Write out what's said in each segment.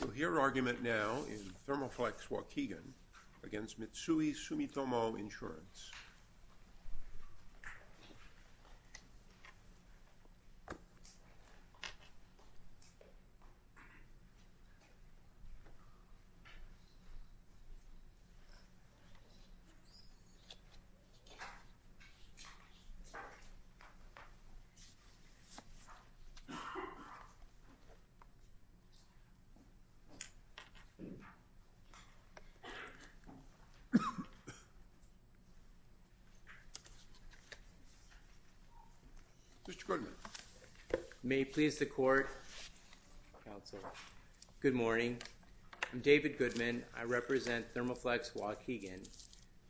We'll hear argument now in Thermoflex Waukegan against Mitsui Sumitomo Insurance. Mr. Goodman, may it please the court, counsel, good morning. I'm David Goodman. I represent Thermoflex Waukegan.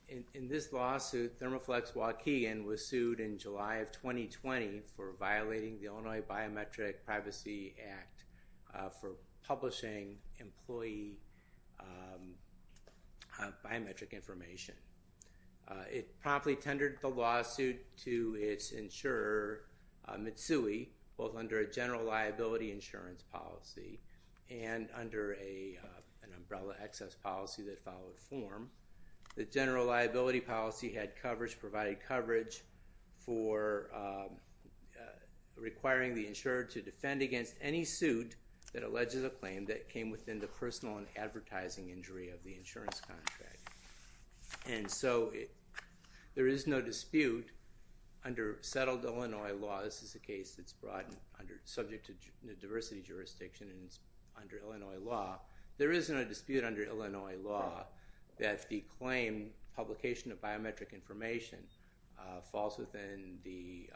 In this lawsuit, Thermoflex Waukegan was sued in July of 2020 for violating the Illinois Biometric Privacy Act for publishing employee biometric information. It promptly tendered the lawsuit to its insurer, Mitsui, both under a general liability insurance policy and under an umbrella access policy that followed form. The general liability policy had coverage, provided coverage for requiring the insurer to defend against any suit that alleges a claim that came within the personal and advertising injury of the insurance contract. And so there is no dispute under settled Illinois law, this is a case that's brought under, subject to diversity jurisdiction and it's under Illinois law, there isn't a dispute under Illinois law that the claim, publication of biometric information, falls within the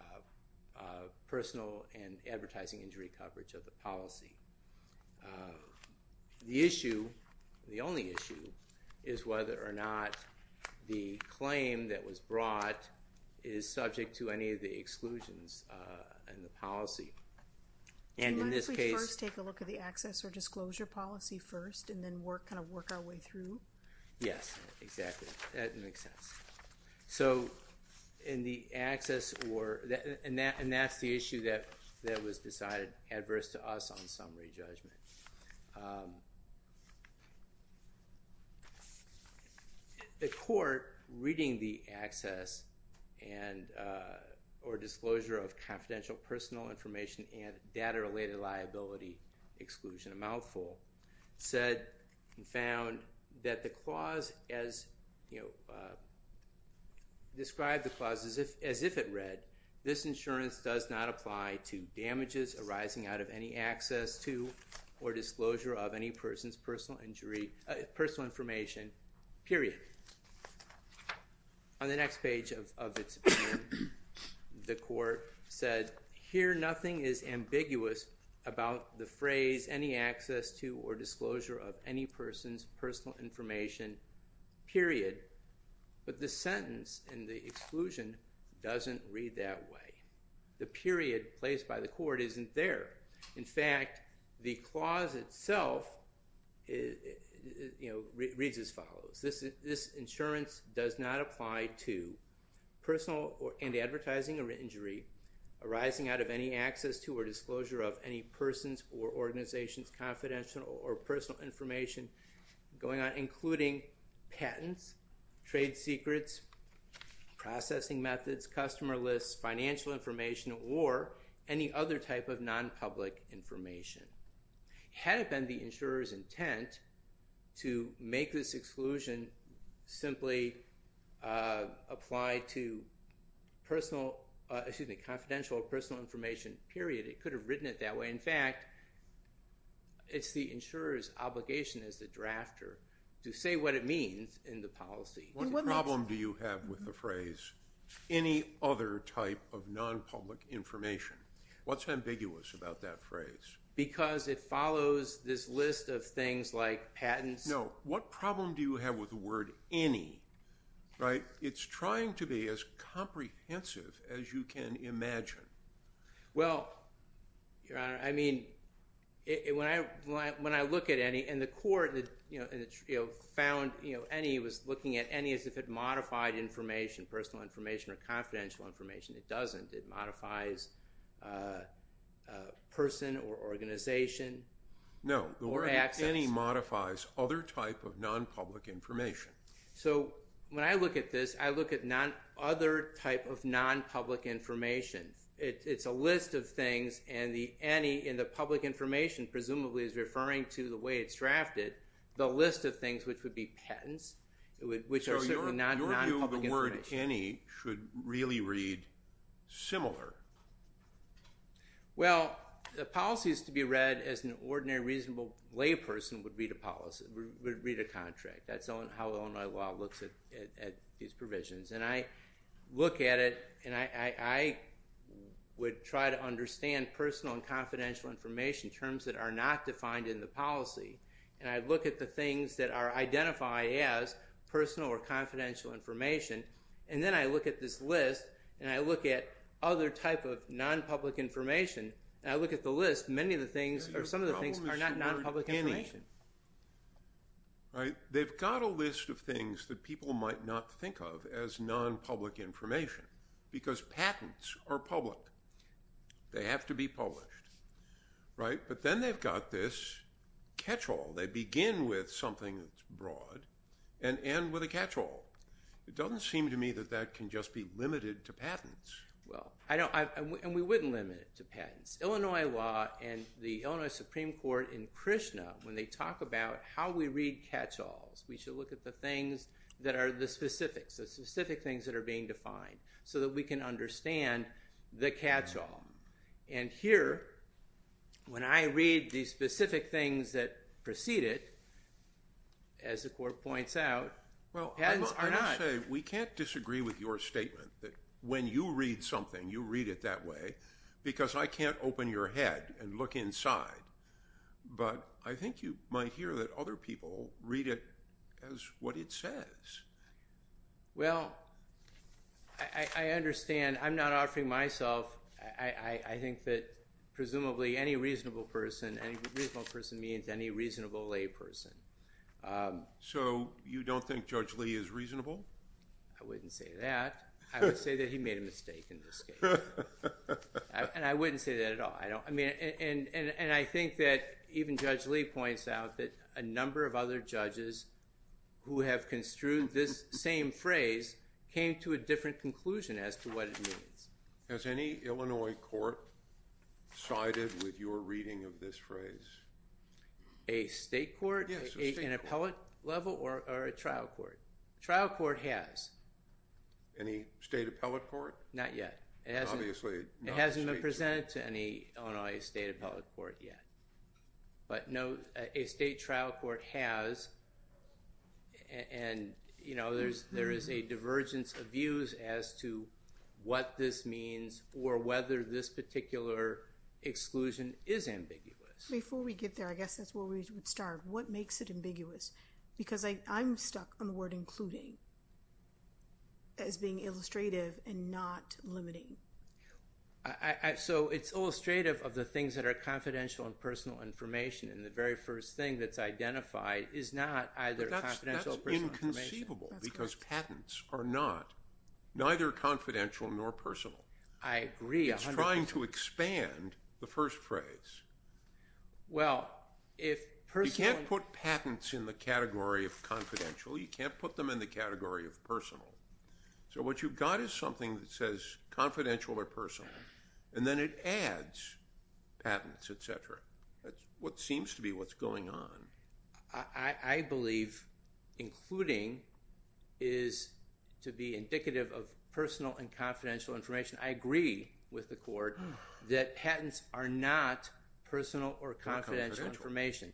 personal and advertising injury coverage of the policy. The issue, the only issue, is whether or not the claim that was brought is subject to any of the exclusions in the policy. And in this case... Yes, exactly, that makes sense. So in the access or, and that's the issue that was decided adverse to us on summary judgment. The court, reading the access and, or disclosure of confidential personal information and data related liability exclusion, a mouthful, said and found that the clause as, you know, described the clause as if it read, this insurance does not apply to damages arising out of any access to or disclosure of any person's personal injury, personal information, period. On the next page of its opinion, the court said, here nothing is ambiguous about the phrase any access to or disclosure of any person's personal information, period. But the sentence in the exclusion doesn't read that way. The period placed by the court isn't there. In fact, the clause itself, you know, reads as follows. This insurance does not apply to personal and advertising injury arising out of any access to or disclosure of any person's or organization's confidential or personal information going on, including patents, trade secrets, processing methods, customer lists, financial information, or any other type of non-public information. Had it been the insurer's intent to make this exclusion simply apply to personal, excuse me, confidential or personal information, period, it could have written it that way. In fact, it's the insurer's obligation as the drafter to say what it means in the policy. What problem do you have with the phrase any other type of non-public information? What's ambiguous about that phrase? Because it follows this list of things like patents. No. What problem do you have with the word any? Right? It's trying to be as comprehensive as you can imagine. Well, Your Honor, I mean, when I look at any, and the court, you know, found any was looking at any as if it modified information, personal information or confidential information. It doesn't. It modifies person or organization or access. No. The word any modifies other type of non-public information. So when I look at this, I look at other type of non-public information. It's a list of things and the any in the public information presumably is referring to the way it's drafted, the list of things, which would be patents, which are certainly non-public information. So your view of the word any should really read similar. Well, the policy is to be read as an ordinary reasonable layperson would read a policy, would read a contract. That's how Illinois law looks at these provisions. And I look at it and I would try to understand personal and confidential information, terms that are not defined in the policy. And I look at the things that are identified as personal or confidential information. And then I look at this list and I look at other type of non-public information. I look at the list. Many of the things or some of the things are not non-public information. Right. They've got a list of things that people might not think of as non-public information because patents are public. They have to be published, right? But then they've got this catch-all. They begin with something that's broad and end with a catch-all. It doesn't seem to me that that can just be limited to patents. Well, and we wouldn't limit it to patents. Illinois law and the Illinois Supreme Court in Krishna, when they talk about how we read catch-alls, we should look at the things that are the specifics, the specific things that are being defined, so that we can understand the catch-all. And here, when I read the specific things that precede it, as the Court points out, patents are not. We can't disagree with your statement that when you read something, you read it that way because I can't open your head and look inside. But I think you might hear that other people read it as what it says. Well, I understand. I'm not offering myself. I think that presumably any reasonable person, any reasonable person means any reasonable lay person. So you don't think Judge Lee is reasonable? I wouldn't say that. I would say that he made a mistake in this case. And I wouldn't say that a number of other judges who have construed this same phrase came to a different conclusion as to what it means. Has any Illinois court sided with your reading of this phrase? A state court, an appellate level, or a trial court? A trial court has. Any state appellate court? Not yet. It hasn't been presented to any Illinois state appellate court yet. But a state trial court has. And there is a divergence of views as to what this means or whether this particular exclusion is ambiguous. Before we get there, I guess that's where we would start. What makes it ambiguous? Because I'm stuck on the word including as being illustrative and not limiting. So it's illustrative of the things that are confidential and personal information. And the very first thing that's identified is not either confidential or personal information. But that's inconceivable because patents are not neither confidential nor personal. I agree 100%. It's trying to expand the first phrase. Well, if personal... You can't put patents in the category of confidential. You can't put them in the category of personal. So what you've got is something that says confidential or personal. And then it adds patents, et cetera. That's what seems to be what's going on. I believe including is to be indicative of personal and confidential information. I agree with the court that patents are not personal or confidential information.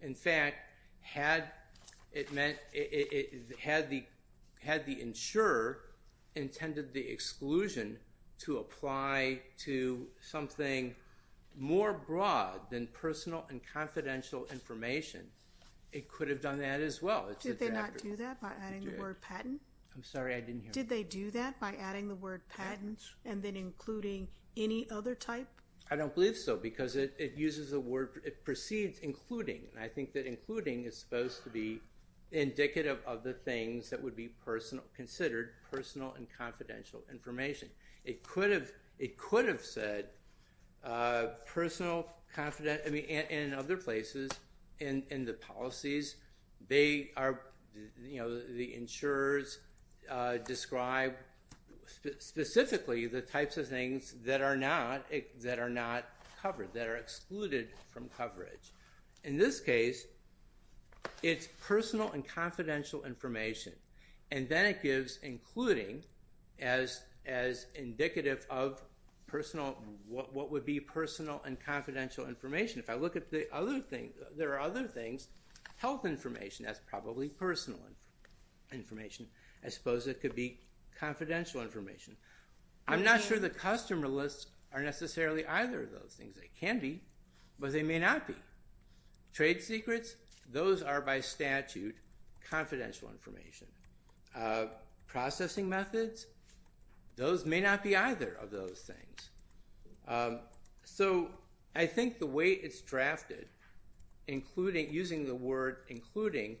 In fact, had the insurer intended the exclusion to apply to something more broad than personal and confidential information, it could have done that as well. Did they not do that by adding the word patent? I'm sorry, I didn't hear. Did they do that by adding the word patent and then including any other type? I don't believe so because it precedes including. And I think that including is supposed to be indicative of the things that would be considered personal and confidential information. It could have said personal, confident... I mean, in other places, in the policies, the insurers describe specifically the types of things that are not covered, that are excluded from coverage. In this case, it's personal and confidential information. And then it gives including as indicative of what would be personal and confidential information. If I look at the other things, there are other things. Health information, that's probably personal information. I suppose it could be confidential information. I'm not sure the customer lists are necessarily either of those things. They can be, but they may not be. Trade secrets, those are by statute confidential information. Processing methods, those may not be either of those things. So I think the way it's drafted, including, using the word including,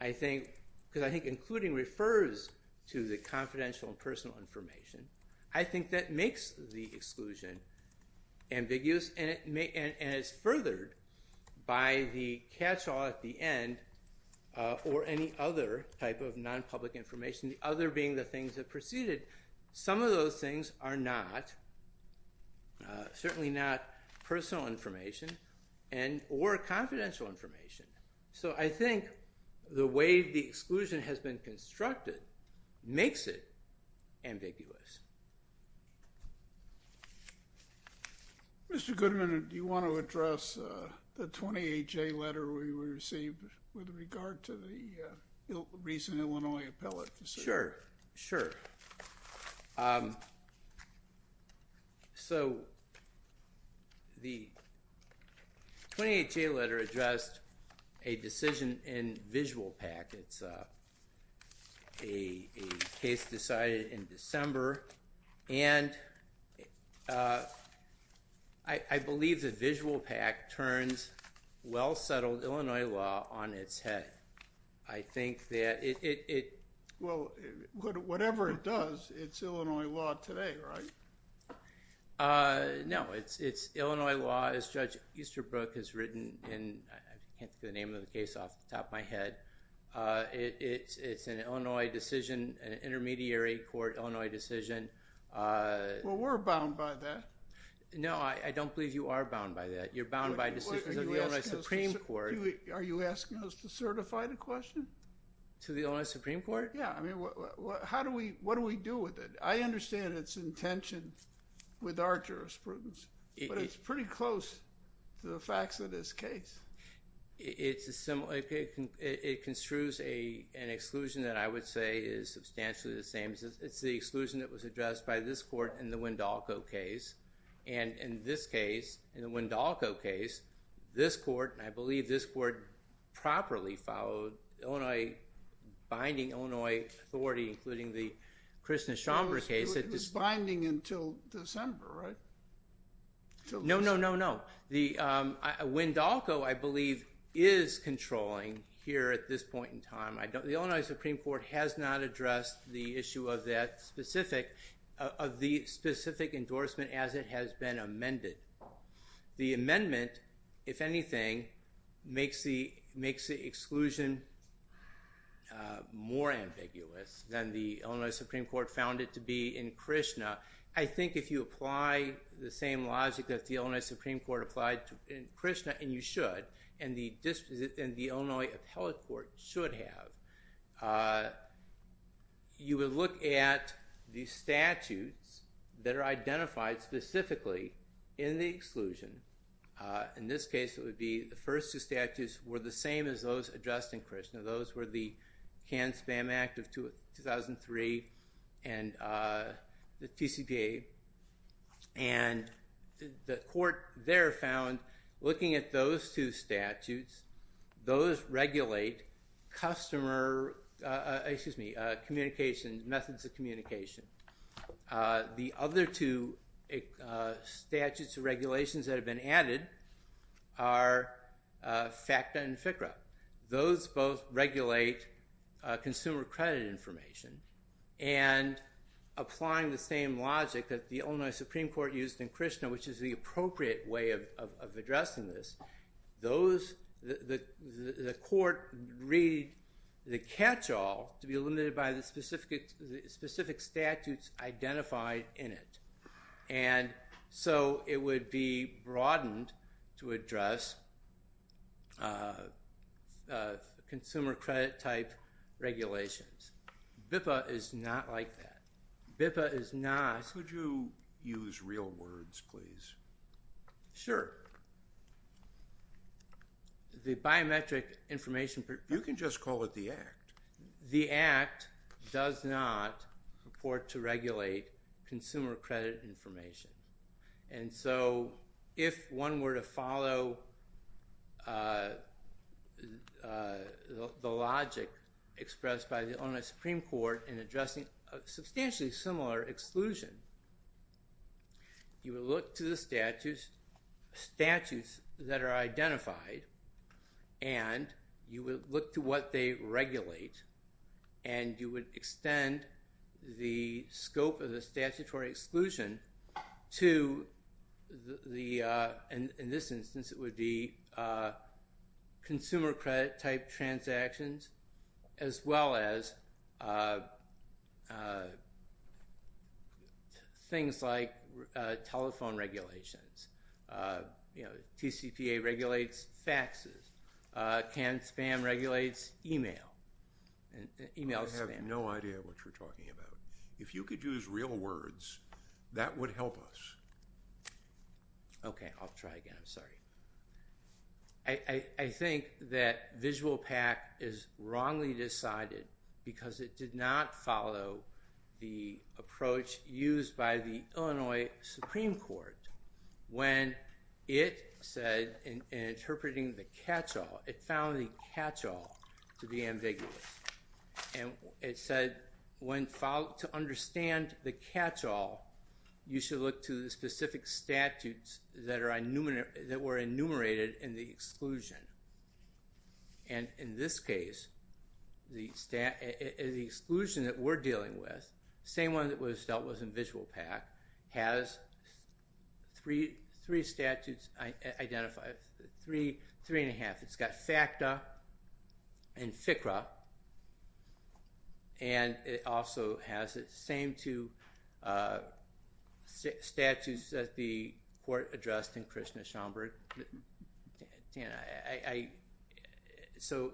I think, because I think including refers to the confidential and personal information. I think that makes the exclusion ambiguous and it's furthered by the catchall at the end or any other type of non-public information, the other being the things that preceded. Some of those things are not, certainly not personal information and or confidential information. So I think the way the exclusion has been constructed makes it ambiguous. Mr. Goodman, do you want to address the 28-J letter we received with regard to the recent Illinois appellate case? Sure, sure. So the 28-J letter addressed a decision in visual PAC. It's a case decided in December and I believe that visual PAC turns well-settled Illinois law on its head. I think that it... Well, whatever it does, it's Illinois law today, right? No, it's Illinois law as Judge Easterbrook has written in, I can't think of the name of the case, but it's an Illinois Supreme Court decision. Well, we're bound by that. No, I don't believe you are bound by that. You're bound by decisions of the Illinois Supreme Court. Are you asking us to certify the question? To the Illinois Supreme Court? Yeah. I mean, what do we do with it? I understand its intention with our jurisprudence, but it's pretty close to the facts of this case. It construes an exclusion that I would say is substantially the same. It's the exclusion that was addressed by this court in the Wendolko case. And in this case, in the Wendolko case, this court, and I believe this court properly followed binding Illinois authority, including the Kristin Schomburg case... It was binding until December, right? No, no, no, no. Wendolko, I believe, is controlling here at this point in time. The Illinois Supreme Court has not addressed the issue of that specific, of the specific endorsement as it has been amended. The amendment, if anything, makes the exclusion more ambiguous than the same logic that the Illinois Supreme Court applied in Krishna, and you should, and the Illinois appellate court should have. You would look at the statutes that are identified specifically in the exclusion. In this case, it would be the first two statutes were the same as those addressed in Krishna. Those were the Canned Spam Act of 2003 and the TCPA. And the court there found, looking at those two statutes, those regulate customer, excuse me, communication, methods of communication. The other two statutes or regulations that have been added are FACTA and FCRA. Those both regulate consumer credit information. And applying the same logic that the Illinois Supreme Court used in Krishna, which is the appropriate way of addressing this, the court read the catch-all to be limited by the specific statutes identified in it. And so it would be broadened to address consumer credit type regulations. BIPA is not like that. BIPA is not... Could you use real words, please? Sure. The biometric information... You can just call it the Act. The Act does not report to regulate consumer credit information. And so if one were to follow the logic expressed by the Illinois Supreme Court in addressing a substantially similar exclusion, you would look to the statutes that are identified and you would look to what they regulate and you would extend the scope of the statutory exclusion to, in this instance, it would be consumer credit type transactions as well as things like telephone regulations. TCPA regulates faxes. CAN-SPAM regulates email. I have no idea what you're talking about. If you could use real words, that would help us. Okay. I'll try again. I'm sorry. I think that visual PAC is wrongly decided because it did not follow the approach used by the Illinois Supreme Court when it said in interpreting the catch-all, it found the catch-all to be ambiguous. And it said to understand the catch-all, you should look to the specific statutes that were enumerated in the exclusion. And in this exclusion that we're dealing with, the same one that was dealt with in visual PAC, has three statutes identified, three and a half. It's got FACTA and FCRA. And it also has the same two statutes that the court addressed in Krishna Schomburg. So,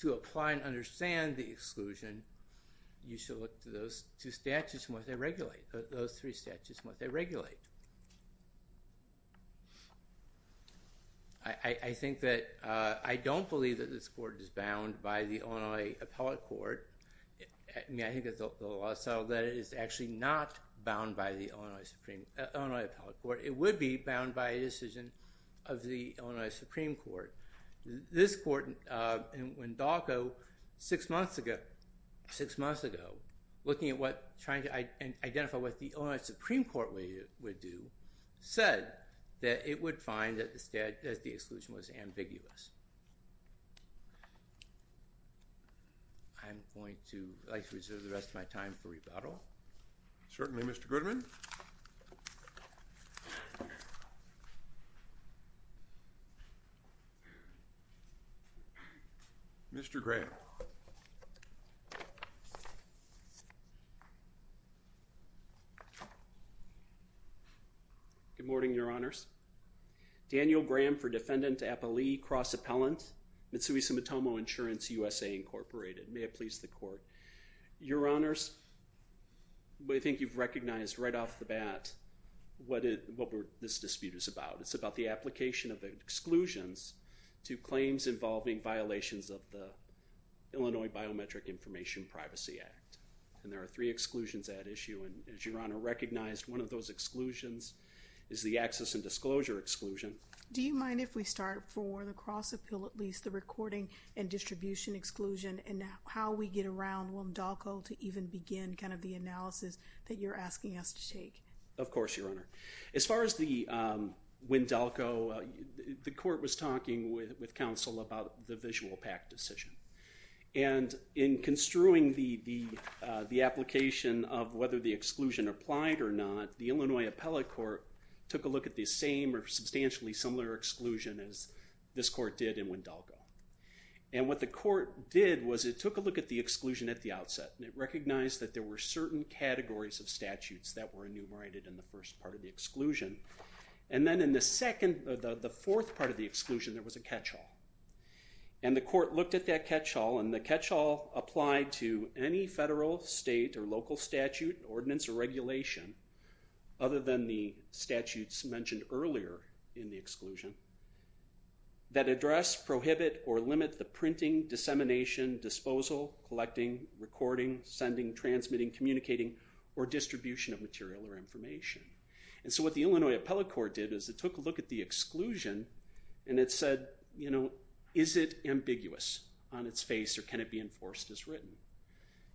to apply and understand the exclusion, you should look to those two statutes and what they regulate, those three statutes and what they regulate. I don't believe that this court is bound by the Illinois Appellate Court. I think that the law settled that it is actually not bound by the Illinois Supreme, Illinois Appellate Court. It would be bound by a decision of the Illinois Supreme Court. This court, when Dawko, six months ago, looking at what, trying to identify what the Illinois Supreme Court would do, said that it would find that the exclusion was ambiguous. I'm going to like to reserve the rest of my time for rebuttal. Daniel Graham for Defendant Appellee, Cross Appellant, Mitsui Sumitomo Insurance, USA Incorporated. May it please the court. Your Honors, I think you've recognized right off the bat what this dispute is about. It's about the application of exclusions to claims involving violations of the Illinois Biometric Information Privacy Act. And there are three exclusions at issue. And as Your Honor recognized, one of those exclusions is the access and disclosure exclusion. Do you mind if we start for the Cross Appeal, at least the recording and distribution exclusion, and how we get around when Dawko to even begin kind of the analysis that you're asking us to take? Of course, Your Honor. As far as the, when Dawko, the court was talking with counsel about the visual PAC decision. And in construing the application of whether the exclusion applied or not, the Illinois Appellate Court took a look at the same or substantially similar exclusion as this court did in when Dawko. And what the court did was it took a look at the exclusion at the outset and it recognized that there were certain categories of statutes that were enumerated in the first part of the exclusion. And then the second, the fourth part of the exclusion, there was a catch-all. And the court looked at that catch-all and the catch-all applied to any federal, state, or local statute, ordinance, or regulation other than the statutes mentioned earlier in the exclusion that address, prohibit, or limit the printing, dissemination, disposal, collecting, recording, sending, transmitting, communicating, or distribution of material or information. And so what the Illinois Appellate Court did is it took a look at the exclusion and it said, you know, is it ambiguous on its face or can it be enforced as written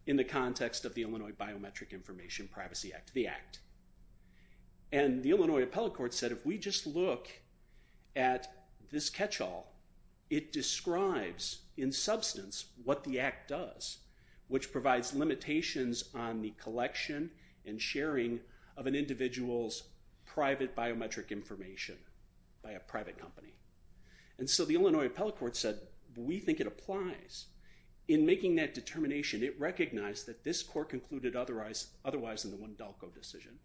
in the context of the Illinois Biometric Information Privacy Act, the Act. And the Illinois Appellate Court said if we just look at this catch-all, it describes in substance what the Act does, which provides limitations on the collection and sharing of an individual's private biometric information by a private company. And so the Illinois Appellate Court said we think it applies. In making that determination, it recognized that this court concluded otherwise in the Wendalco decision.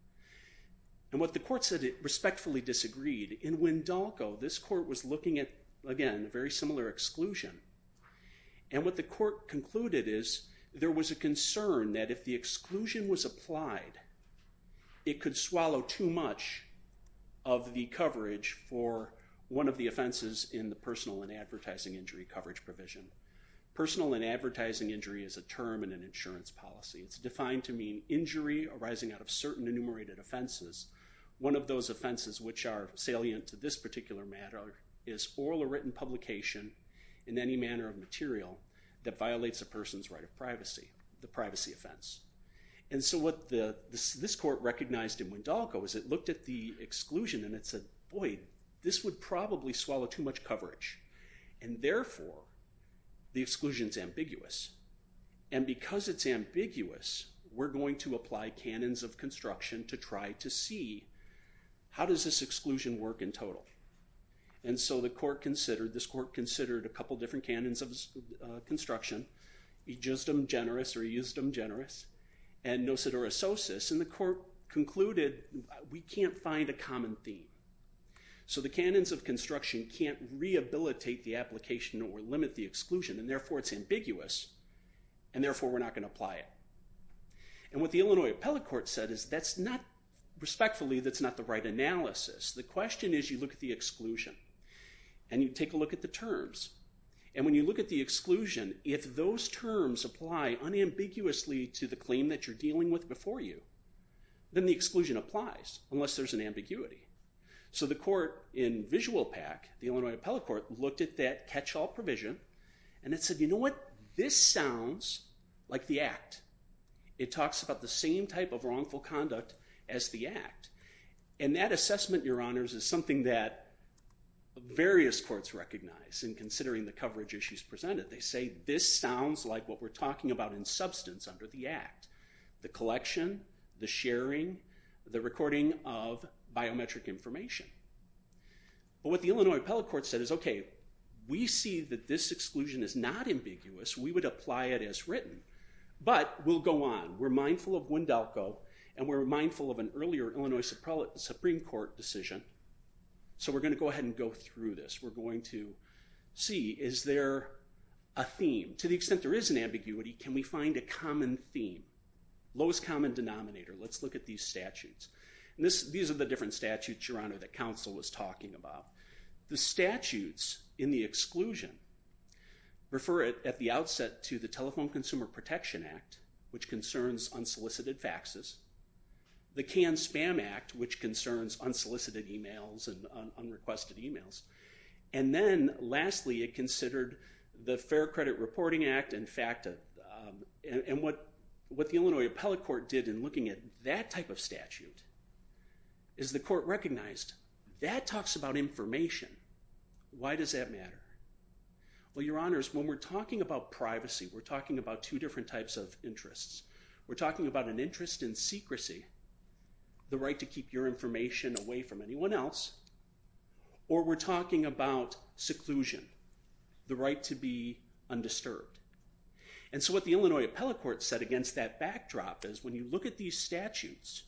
And what the court said it respectfully disagreed. In Wendalco, this court was looking at, again, a very similar exclusion. And what the court concluded is there was a concern that if the exclusion was applied, it could swallow too much of the coverage for one of the offenses in the personal and advertising injury coverage provision. Personal and advertising injury is a term in an insurance policy. It's defined to mean injury arising out of certain enumerated offenses. One of those offenses which are salient to this particular matter is oral or written publication in any manner of material that violates a person's right of privacy, the And so what this court recognized in Wendalco is it looked at the exclusion and it said, boy, this would probably swallow too much coverage. And therefore, the exclusion is ambiguous. And because it's ambiguous, we're going to apply canons of construction to try to see how does this exclusion work in total. And so the court considered, this court concluded we can't find a common theme. So the canons of construction can't rehabilitate the application or limit the exclusion. And therefore, it's ambiguous. And therefore, we're not going to apply it. And what the Illinois appellate court said is that's not, respectfully, that's not the right analysis. The question is you look at the exclusion. And you take a look at the terms. And when you look at the exclusion, if those terms apply unambiguously to the claim that you're dealing with before you, then the exclusion applies unless there's an ambiguity. So the court in VisualPAC, the Illinois appellate court, looked at that catch-all provision. And it said, you know what, this sounds like the act. It talks about the same type of wrongful conduct as the act. And that assessment, your honors, is something that various courts recognize in considering the coverage issues presented. They say this sounds like what we're talking about in substance under the act, the collection, the sharing, the recording of biometric information. But what the Illinois appellate court said is, okay, we see that this exclusion is not ambiguous. We would apply it as written. But we'll go on. We're mindful of Wendelco. And we're mindful of an earlier Illinois Supreme Court decision. So we're going to go ahead and go through this. We're going to see, is there a theme? To the extent there is an ambiguity, can we find a common theme? Lowest common denominator. Let's look at these statutes. And these are the different statutes, your honor, that counsel was talking about. The statutes in the exclusion refer at the outset to the Telephone Consumer Protection Act, which concerns unsolicited faxes. The Cannes Spam Act, which concerns unsolicited emails and unrequested emails. And then, lastly, it considered the Fair Credit Reporting Act. And what the Illinois appellate court did in looking at that type of statute is the court recognized, that talks about information. Why does that matter? Well, your honors, when we're talking about privacy, we're talking about two different types of interests. We're talking about an interest in secrecy, the right to keep your information away from anyone else. Or we're talking about seclusion, the right to be undisturbed. And so what the Illinois appellate court said against that backdrop is, when you look at these statutes,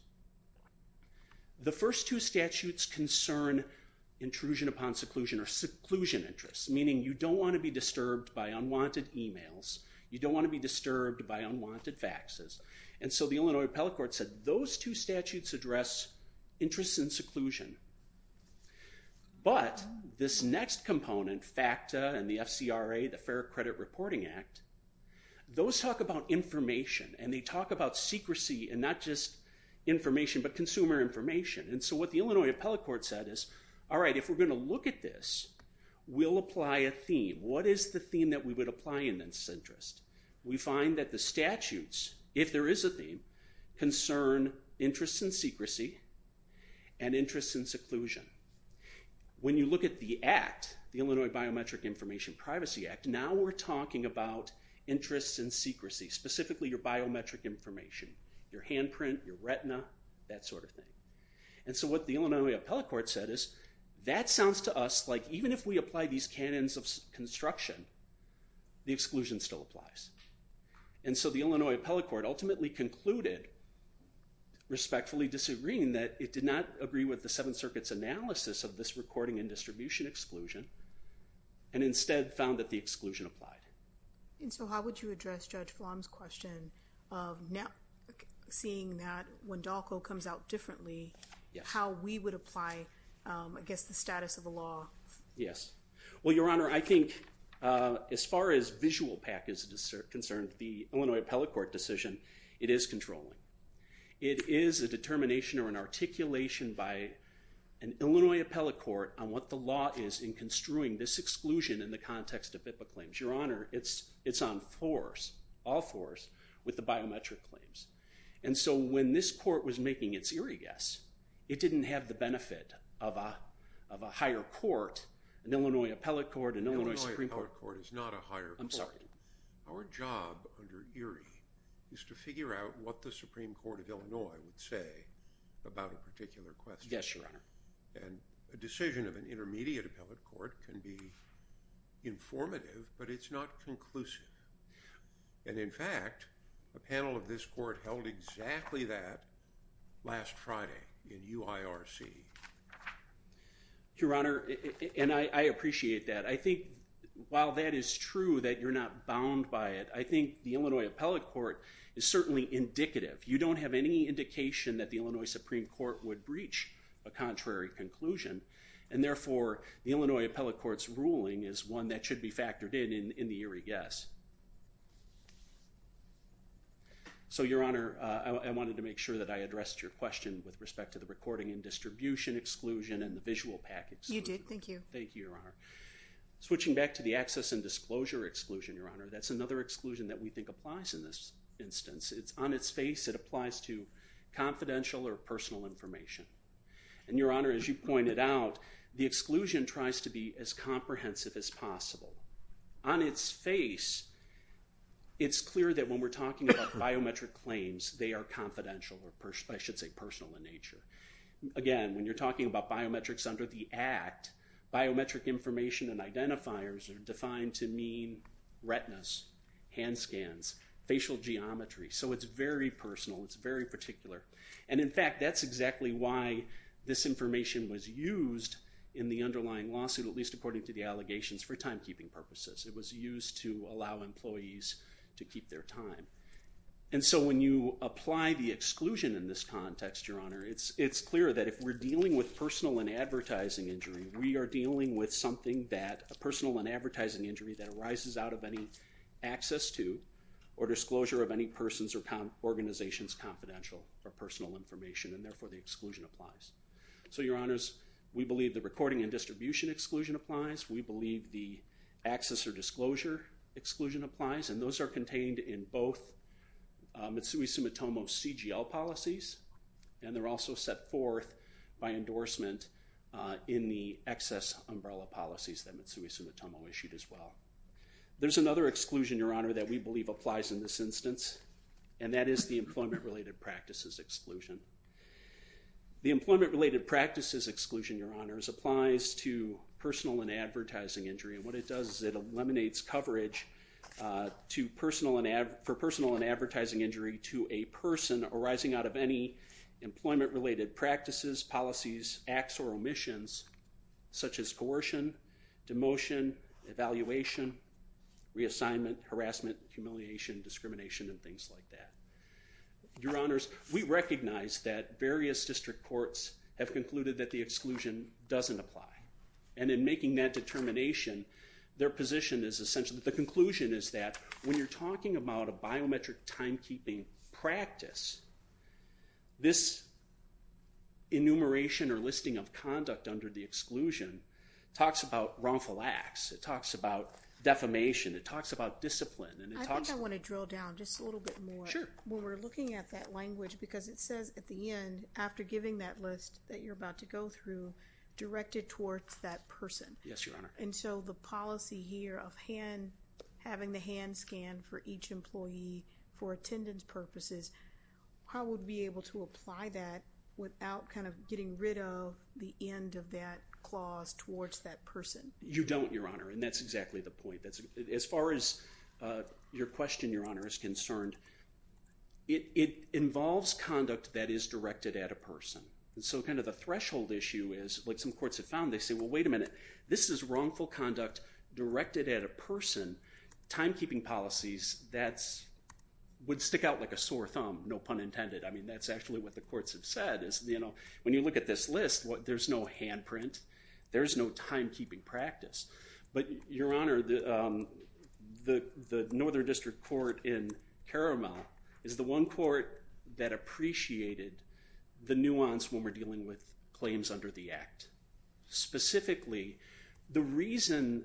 the first two statutes concern intrusion upon seclusion or seclusion interests, meaning you don't want to be disturbed by unwanted faxes. And so the Illinois appellate court said, those two statutes address interests in seclusion. But this next component, FACTA and the FCRA, the Fair Credit Reporting Act, those talk about information and they talk about secrecy and not just information but consumer information. And so what the Illinois appellate court said is, all right, if we're going to apply a theme, what is the theme that we would apply in this interest? We find that the statutes, if there is a theme, concern interests in secrecy and interests in seclusion. When you look at the act, the Illinois Biometric Information Privacy Act, now we're talking about interests in secrecy, specifically your biometric information, your handprint, your retina, that sort of thing. And so what the Illinois appellate court said is, that sounds to us like even if we apply these canons of construction, the exclusion still applies. And so the Illinois appellate court ultimately concluded, respectfully disagreeing, that it did not agree with the Seventh Circuit's analysis of this recording and distribution exclusion, and instead found that the exclusion applied. And so how would you address Judge Flom's question of seeing that when DALCO comes out with a new law? Yes. Well, Your Honor, I think as far as visual PAC is concerned, the Illinois appellate court decision, it is controlling. It is a determination or an articulation by an Illinois appellate court on what the law is in construing this exclusion in the context of HIPAA claims. Your Honor, it's on force, all force, with the biometric claims. And so when this court was making its Erie guess, it didn't have the benefit of a higher court, an Illinois appellate court, an Illinois Supreme Court. An Illinois appellate court is not a higher court. I'm sorry. Our job under Erie is to figure out what the Supreme Court of Illinois would say about a particular question. Yes, Your Honor. And a decision of an intermediate appellate court can be informative, but it's not conclusive. And in fact, a panel of this court held exactly that last Friday in UIRC. Your Honor, and I appreciate that. I think while that is true that you're not bound by it, I think the Illinois appellate court is certainly indicative. You don't have any indication that the Illinois Supreme Court would breach a contrary conclusion. And therefore, the So, Your Honor, I wanted to make sure that I addressed your question with respect to the recording and distribution exclusion and the visual pack exclusion. You did. Thank you. Thank you, Your Honor. Switching back to the access and disclosure exclusion, Your Honor, that's another exclusion that we think applies in this instance. It's on its face. It applies to confidential or personal information. And Your Honor, as you pointed out, the exclusion tries to be as comprehensive as possible. On its face, it's clear that when we're talking about biometric claims, they are confidential or I should say personal in nature. Again, when you're talking about biometrics under the Act, biometric information and identifiers are defined to mean retinas, hand scans, facial geometry. So it's very personal. It's very particular. And in fact, that's exactly why this information was used in the underlying lawsuit, at least according to the allegations, for timekeeping purposes. It was used to allow employees to keep their time. And so when you apply the exclusion in this context, Your Honor, it's clear that if we're dealing with personal and advertising injury, we are dealing with something that, a personal and advertising injury that arises out of any access to or disclosure of any person's or organization's confidential or personal information and therefore the exclusion applies. So Your Honors, we believe the recording and distribution exclusion applies. We believe the access or disclosure exclusion applies and those are contained in both Mitsui Sumitomo's CGL policies and they're also set forth by endorsement in the excess umbrella policies that Mitsui Sumitomo issued as well. There's another exclusion, Your Honor, that we believe applies in this instance and that is the employment-related practices exclusion. The employment-related practices exclusion, Your Honors, applies to personal and advertising injury. And what it does is it eliminates coverage for personal and advertising injury to a person arising out of any employment-related practices, policies, acts or omissions such as coercion, demotion, evaluation, reassignment, harassment, humiliation, discrimination and things like that. Your Honors, we recognize that various district courts have concluded that the exclusion doesn't apply. And in making that determination, their position is essentially, the conclusion is that when you're talking about a biometric timekeeping practice, this enumeration or listing of conduct under the exclusion talks about wrongful acts. It talks about defamation. It talks about discipline. I think I want to drill down just a little bit more. Sure. When we're looking at that language because it says at the end, after giving that list that you're about to go through, directed towards that person. Yes, Your Honor. And so the policy here of having the hand scan for each employee for attendance purposes, how would we be able to apply that without kind of getting rid of the end of that clause towards that person? You don't, Your Honor. And that's exactly the point. As far as your question, Your Honor, is concerned, it involves conduct that is directed at a person. So kind of the threshold issue is, like some courts have found, they say, well, wait a minute. This is wrongful conduct directed at a person. Timekeeping policies, that would stick out like a sore thumb. No pun intended. I mean, that's actually what the courts have said. When you look at this list, there's no handprint. There's no timekeeping practice. But Your Honor, the Northern District Court in Caramel is the one court that appreciated the nuance when we're dealing with claims under the Act. Specifically, the reason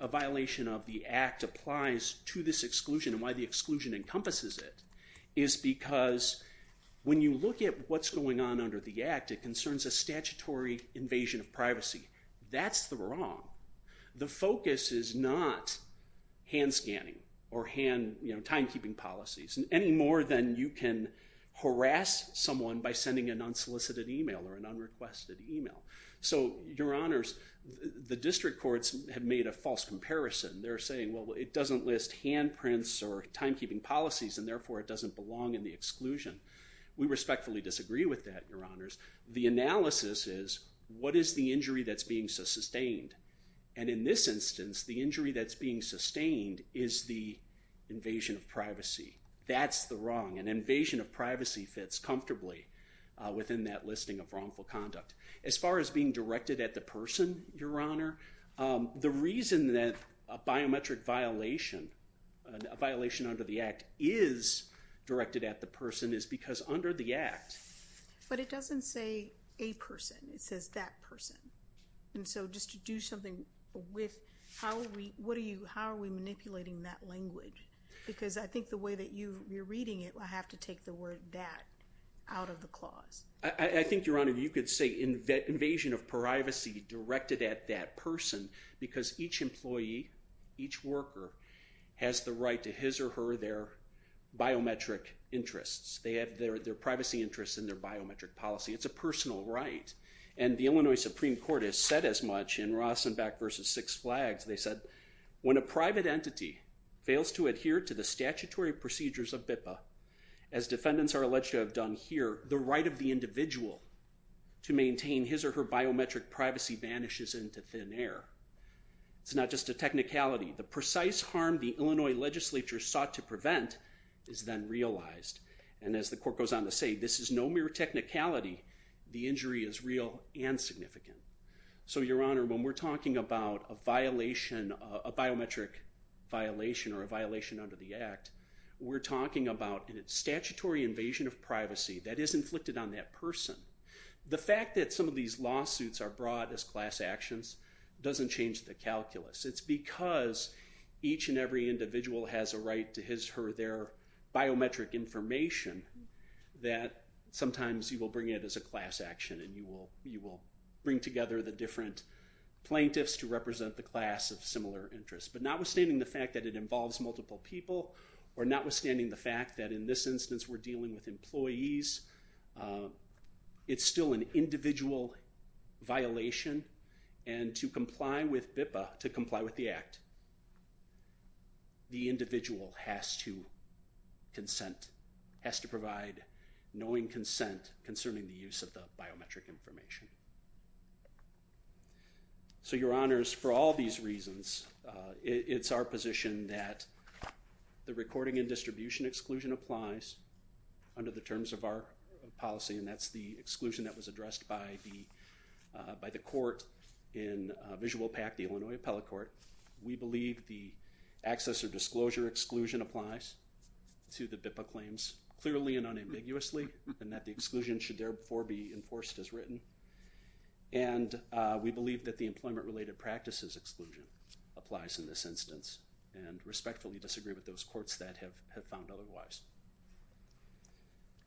a violation of the Act applies to this exclusion and why the concerns a statutory invasion of privacy. That's the wrong. The focus is not hand scanning or hand timekeeping policies any more than you can harass someone by sending an unsolicited email or an unrequested email. So, Your Honors, the district courts have made a false comparison. They're saying, well, it doesn't list handprints or timekeeping policies, and therefore, it doesn't belong in the exclusion. We respectfully disagree with that, Your Honors. The analysis is, what is the injury that's being sustained? And in this instance, the injury that's being sustained is the invasion of privacy. That's the wrong. An invasion of privacy fits comfortably within that listing of wrongful conduct. As far as being directed at the person, Your Honor, the reason that a biometric violation, a violation under the Act is directed at the person is because under the Act. But it doesn't say a person. It says that person. And so, just to do something with, how are we manipulating that language? Because I think the way that you're reading it, I have to take the word that out of the clause. I think, Your Honor, you could say invasion of privacy directed at that person because each employee, each worker, has the right to his or her, their biometric interests. They have their privacy interests in their biometric policy. It's a personal right. And the Illinois Supreme Court has said as much in Rosenbach v. Six Flags. They said, when a private entity fails to adhere to the statutory procedures of BIPA, as defendants are alleged to have done here, the right of the individual to maintain his or her biometric privacy vanishes into thin air. It's not just a technicality. The precise harm the Illinois legislature sought to prevent is then realized. And as the court goes on to say, this is no mere technicality. The injury is real and significant. So, Your Honor, when we're talking about a violation, a biometric violation or a violation under the Act, we're talking about a statutory invasion of privacy that is inflicted on that person. The fact that some of these lawsuits are brought as class actions doesn't change the calculus. It's because each and every individual has a right to his or her, their biometric information, that sometimes you will bring it as a class action and you will bring together the different plaintiffs to represent the class of similar interests. But notwithstanding the fact that it involves multiple people, or notwithstanding the fact that in this instance we're dealing with employees, it's still an individual violation. And to comply with BIPA, to comply with the Act, the individual has to consent, has to provide knowing consent concerning the use of the biometric information. So, Your Honors, for all these reasons, it's our position that the recording and distribution exclusion applies under the terms of our policy, and that's the exclusion that was addressed by the court in Visual PAC, the Illinois Appellate Court. We believe the access or disclosure exclusion applies to the BIPA claims clearly and unambiguously and that the exclusion should therefore be enforced as written. And we believe that the employment-related practices exclusion applies in this instance and respectfully disagree with those courts that have found otherwise.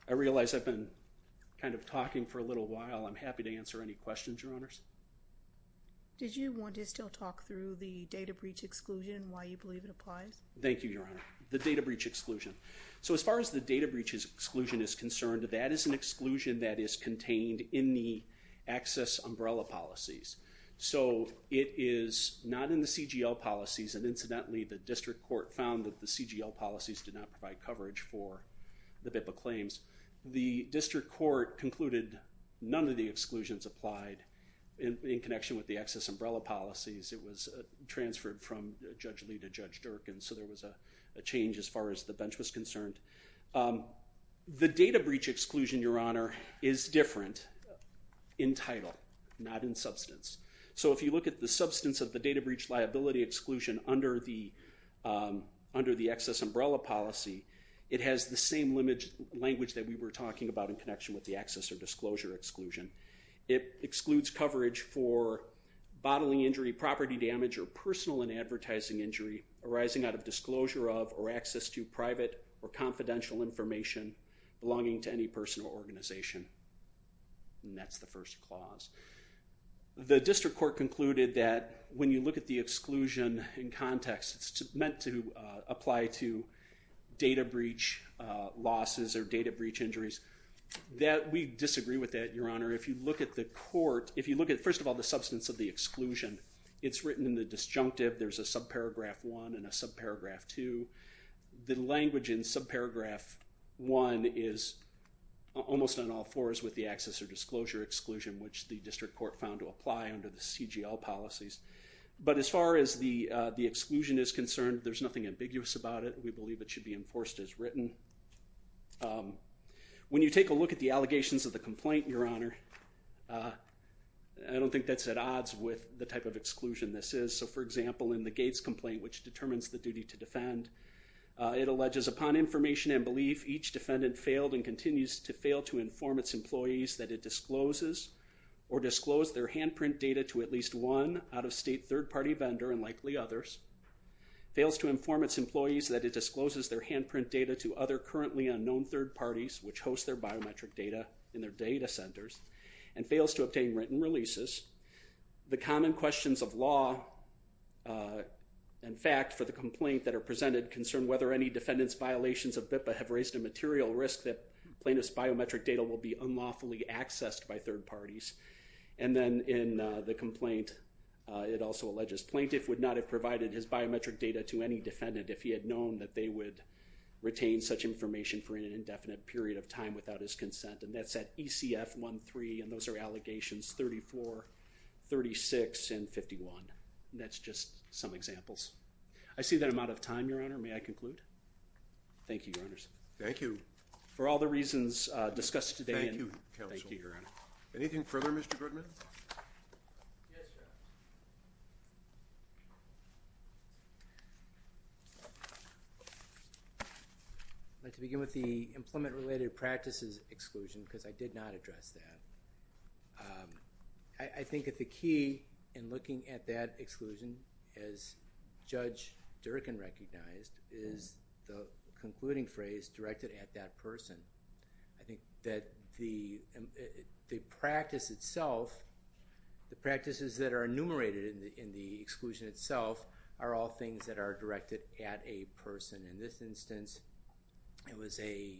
I realize I've been kind of talking for a little while. I'm happy to answer any questions, Your Honors. Did you want to still talk through the data breach exclusion and why you believe it applies? Thank you, Your Honor. The data breach exclusion. So as far as the data breach exclusion is concerned, that is an exclusion that is contained in the access umbrella policies. So it is not in the CGL policies, and incidentally the district court found that the CGL policies did not provide coverage for the BIPA claims. The district court concluded none of the exclusions applied in connection with the access umbrella policies. It was transferred from Judge Lee to Judge Dirk, and so there was a change as far as the bench was concerned. The data breach exclusion, Your Honor, is different in title, not in substance. So if you look at the substance of the data breach liability exclusion under the access umbrella policy, it has the same language that we were talking about in connection with the access or disclosure exclusion. It excludes coverage for bodily injury, property damage, or personal and advertising injury arising out of disclosure of or access to private or confidential information belonging to any person or organization. And that's the first clause. The district court concluded that when you look at the exclusion in context, it's meant to apply to data breach losses or data breach injuries. We disagree with that, Your Honor. If you look at the court, if you look at, first of all, the substance of the exclusion, it's written in the disjunctive. There's a subparagraph 1 and a subparagraph 2. The language in subparagraph 1 is almost on all fours with the access or disclosure exclusion, which the district court found to apply under the CGL policies. But as far as the exclusion is concerned, there's nothing ambiguous about it. We believe it should be enforced as written. When you take a look at the allegations of the complaint, Your Honor, I don't think that's at odds with the type of exclusion this is. So, for example, in the Gates complaint, which determines the duty to defend, it alleges upon information and belief each defendant failed and continues to fail to inform its employees that it discloses or disclosed their handprint data to at least one out-of-state third-party vendor and likely others, fails to inform its employees that it discloses their handprint data to other currently unknown third parties which host their biometric data in their data centers and fails to obtain written releases. The common questions of law and fact for the complaint that are presented concern whether any defendant's violations of BIPA have raised a material risk that plaintiff's biometric data will be unlawfully accessed by third parties. And then in the complaint, it also alleges plaintiff would not have provided his biometric data to any defendant if he had known that they would retain such information for an indefinite period of time without his consent. And that's at ECF 13, and those are allegations 34, 36, and 51. That's just some examples. I see that I'm out of time, Your Honor. May I conclude? Thank you, Your Honors. Thank you. For all the reasons discussed today, thank you, Your Honor. Anything further, Mr. Goodman? Yes, Your Honor. I'd like to begin with the implement-related practices exclusion because I did not address that. I think that the key in looking at that exclusion, as Judge Durkan recognized, is the concluding phrase, directed at that person. I think that the practice itself, the practices that are enumerated in the exclusion itself, are all things that are directed at a person. In this instance, it was a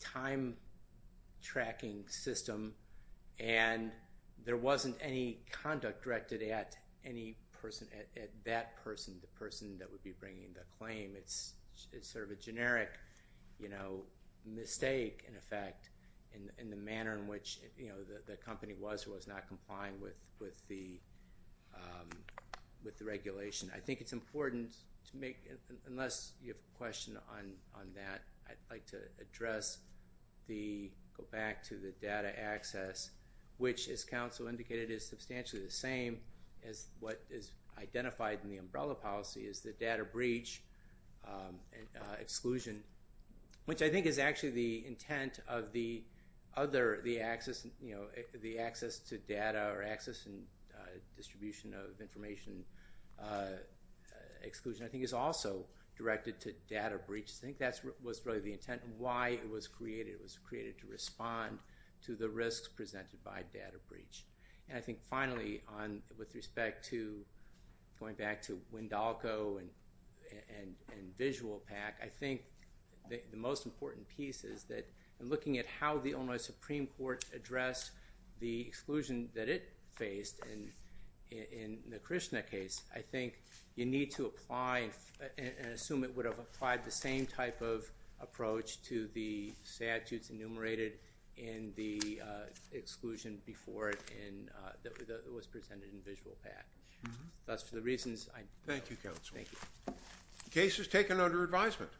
time-tracking system, and there wasn't any conduct directed at any person, at that person, the person that would be bringing the claim. It's sort of a generic mistake, in effect, in the manner in which the company was or was not complying with the regulation. I think it's important to make, unless you have a question on that, I'd like to address the, go back to the data access, which, as counsel indicated, is substantially the same as what is identified in the umbrella policy, is the data breach exclusion, which I think is actually the intent of the other, the access to data or access and distribution of information exclusion, I think is also directed to data breach. I think that was really the intent of why it was created. It was created to respond to the risks presented by data breach. And I think, finally, with respect to going back to Wendalco and VisualPAC, I think the most important piece is that, in looking at how the Illinois Supreme Court addressed the exclusion that it faced in the Krishna case, I think you need to apply and assume it would have applied the same type of approach to the statutes enumerated in the exclusion before it was presented in VisualPAC. Thus, for the reasons I... Thank you, counsel. Thank you. Case is taken under advisement.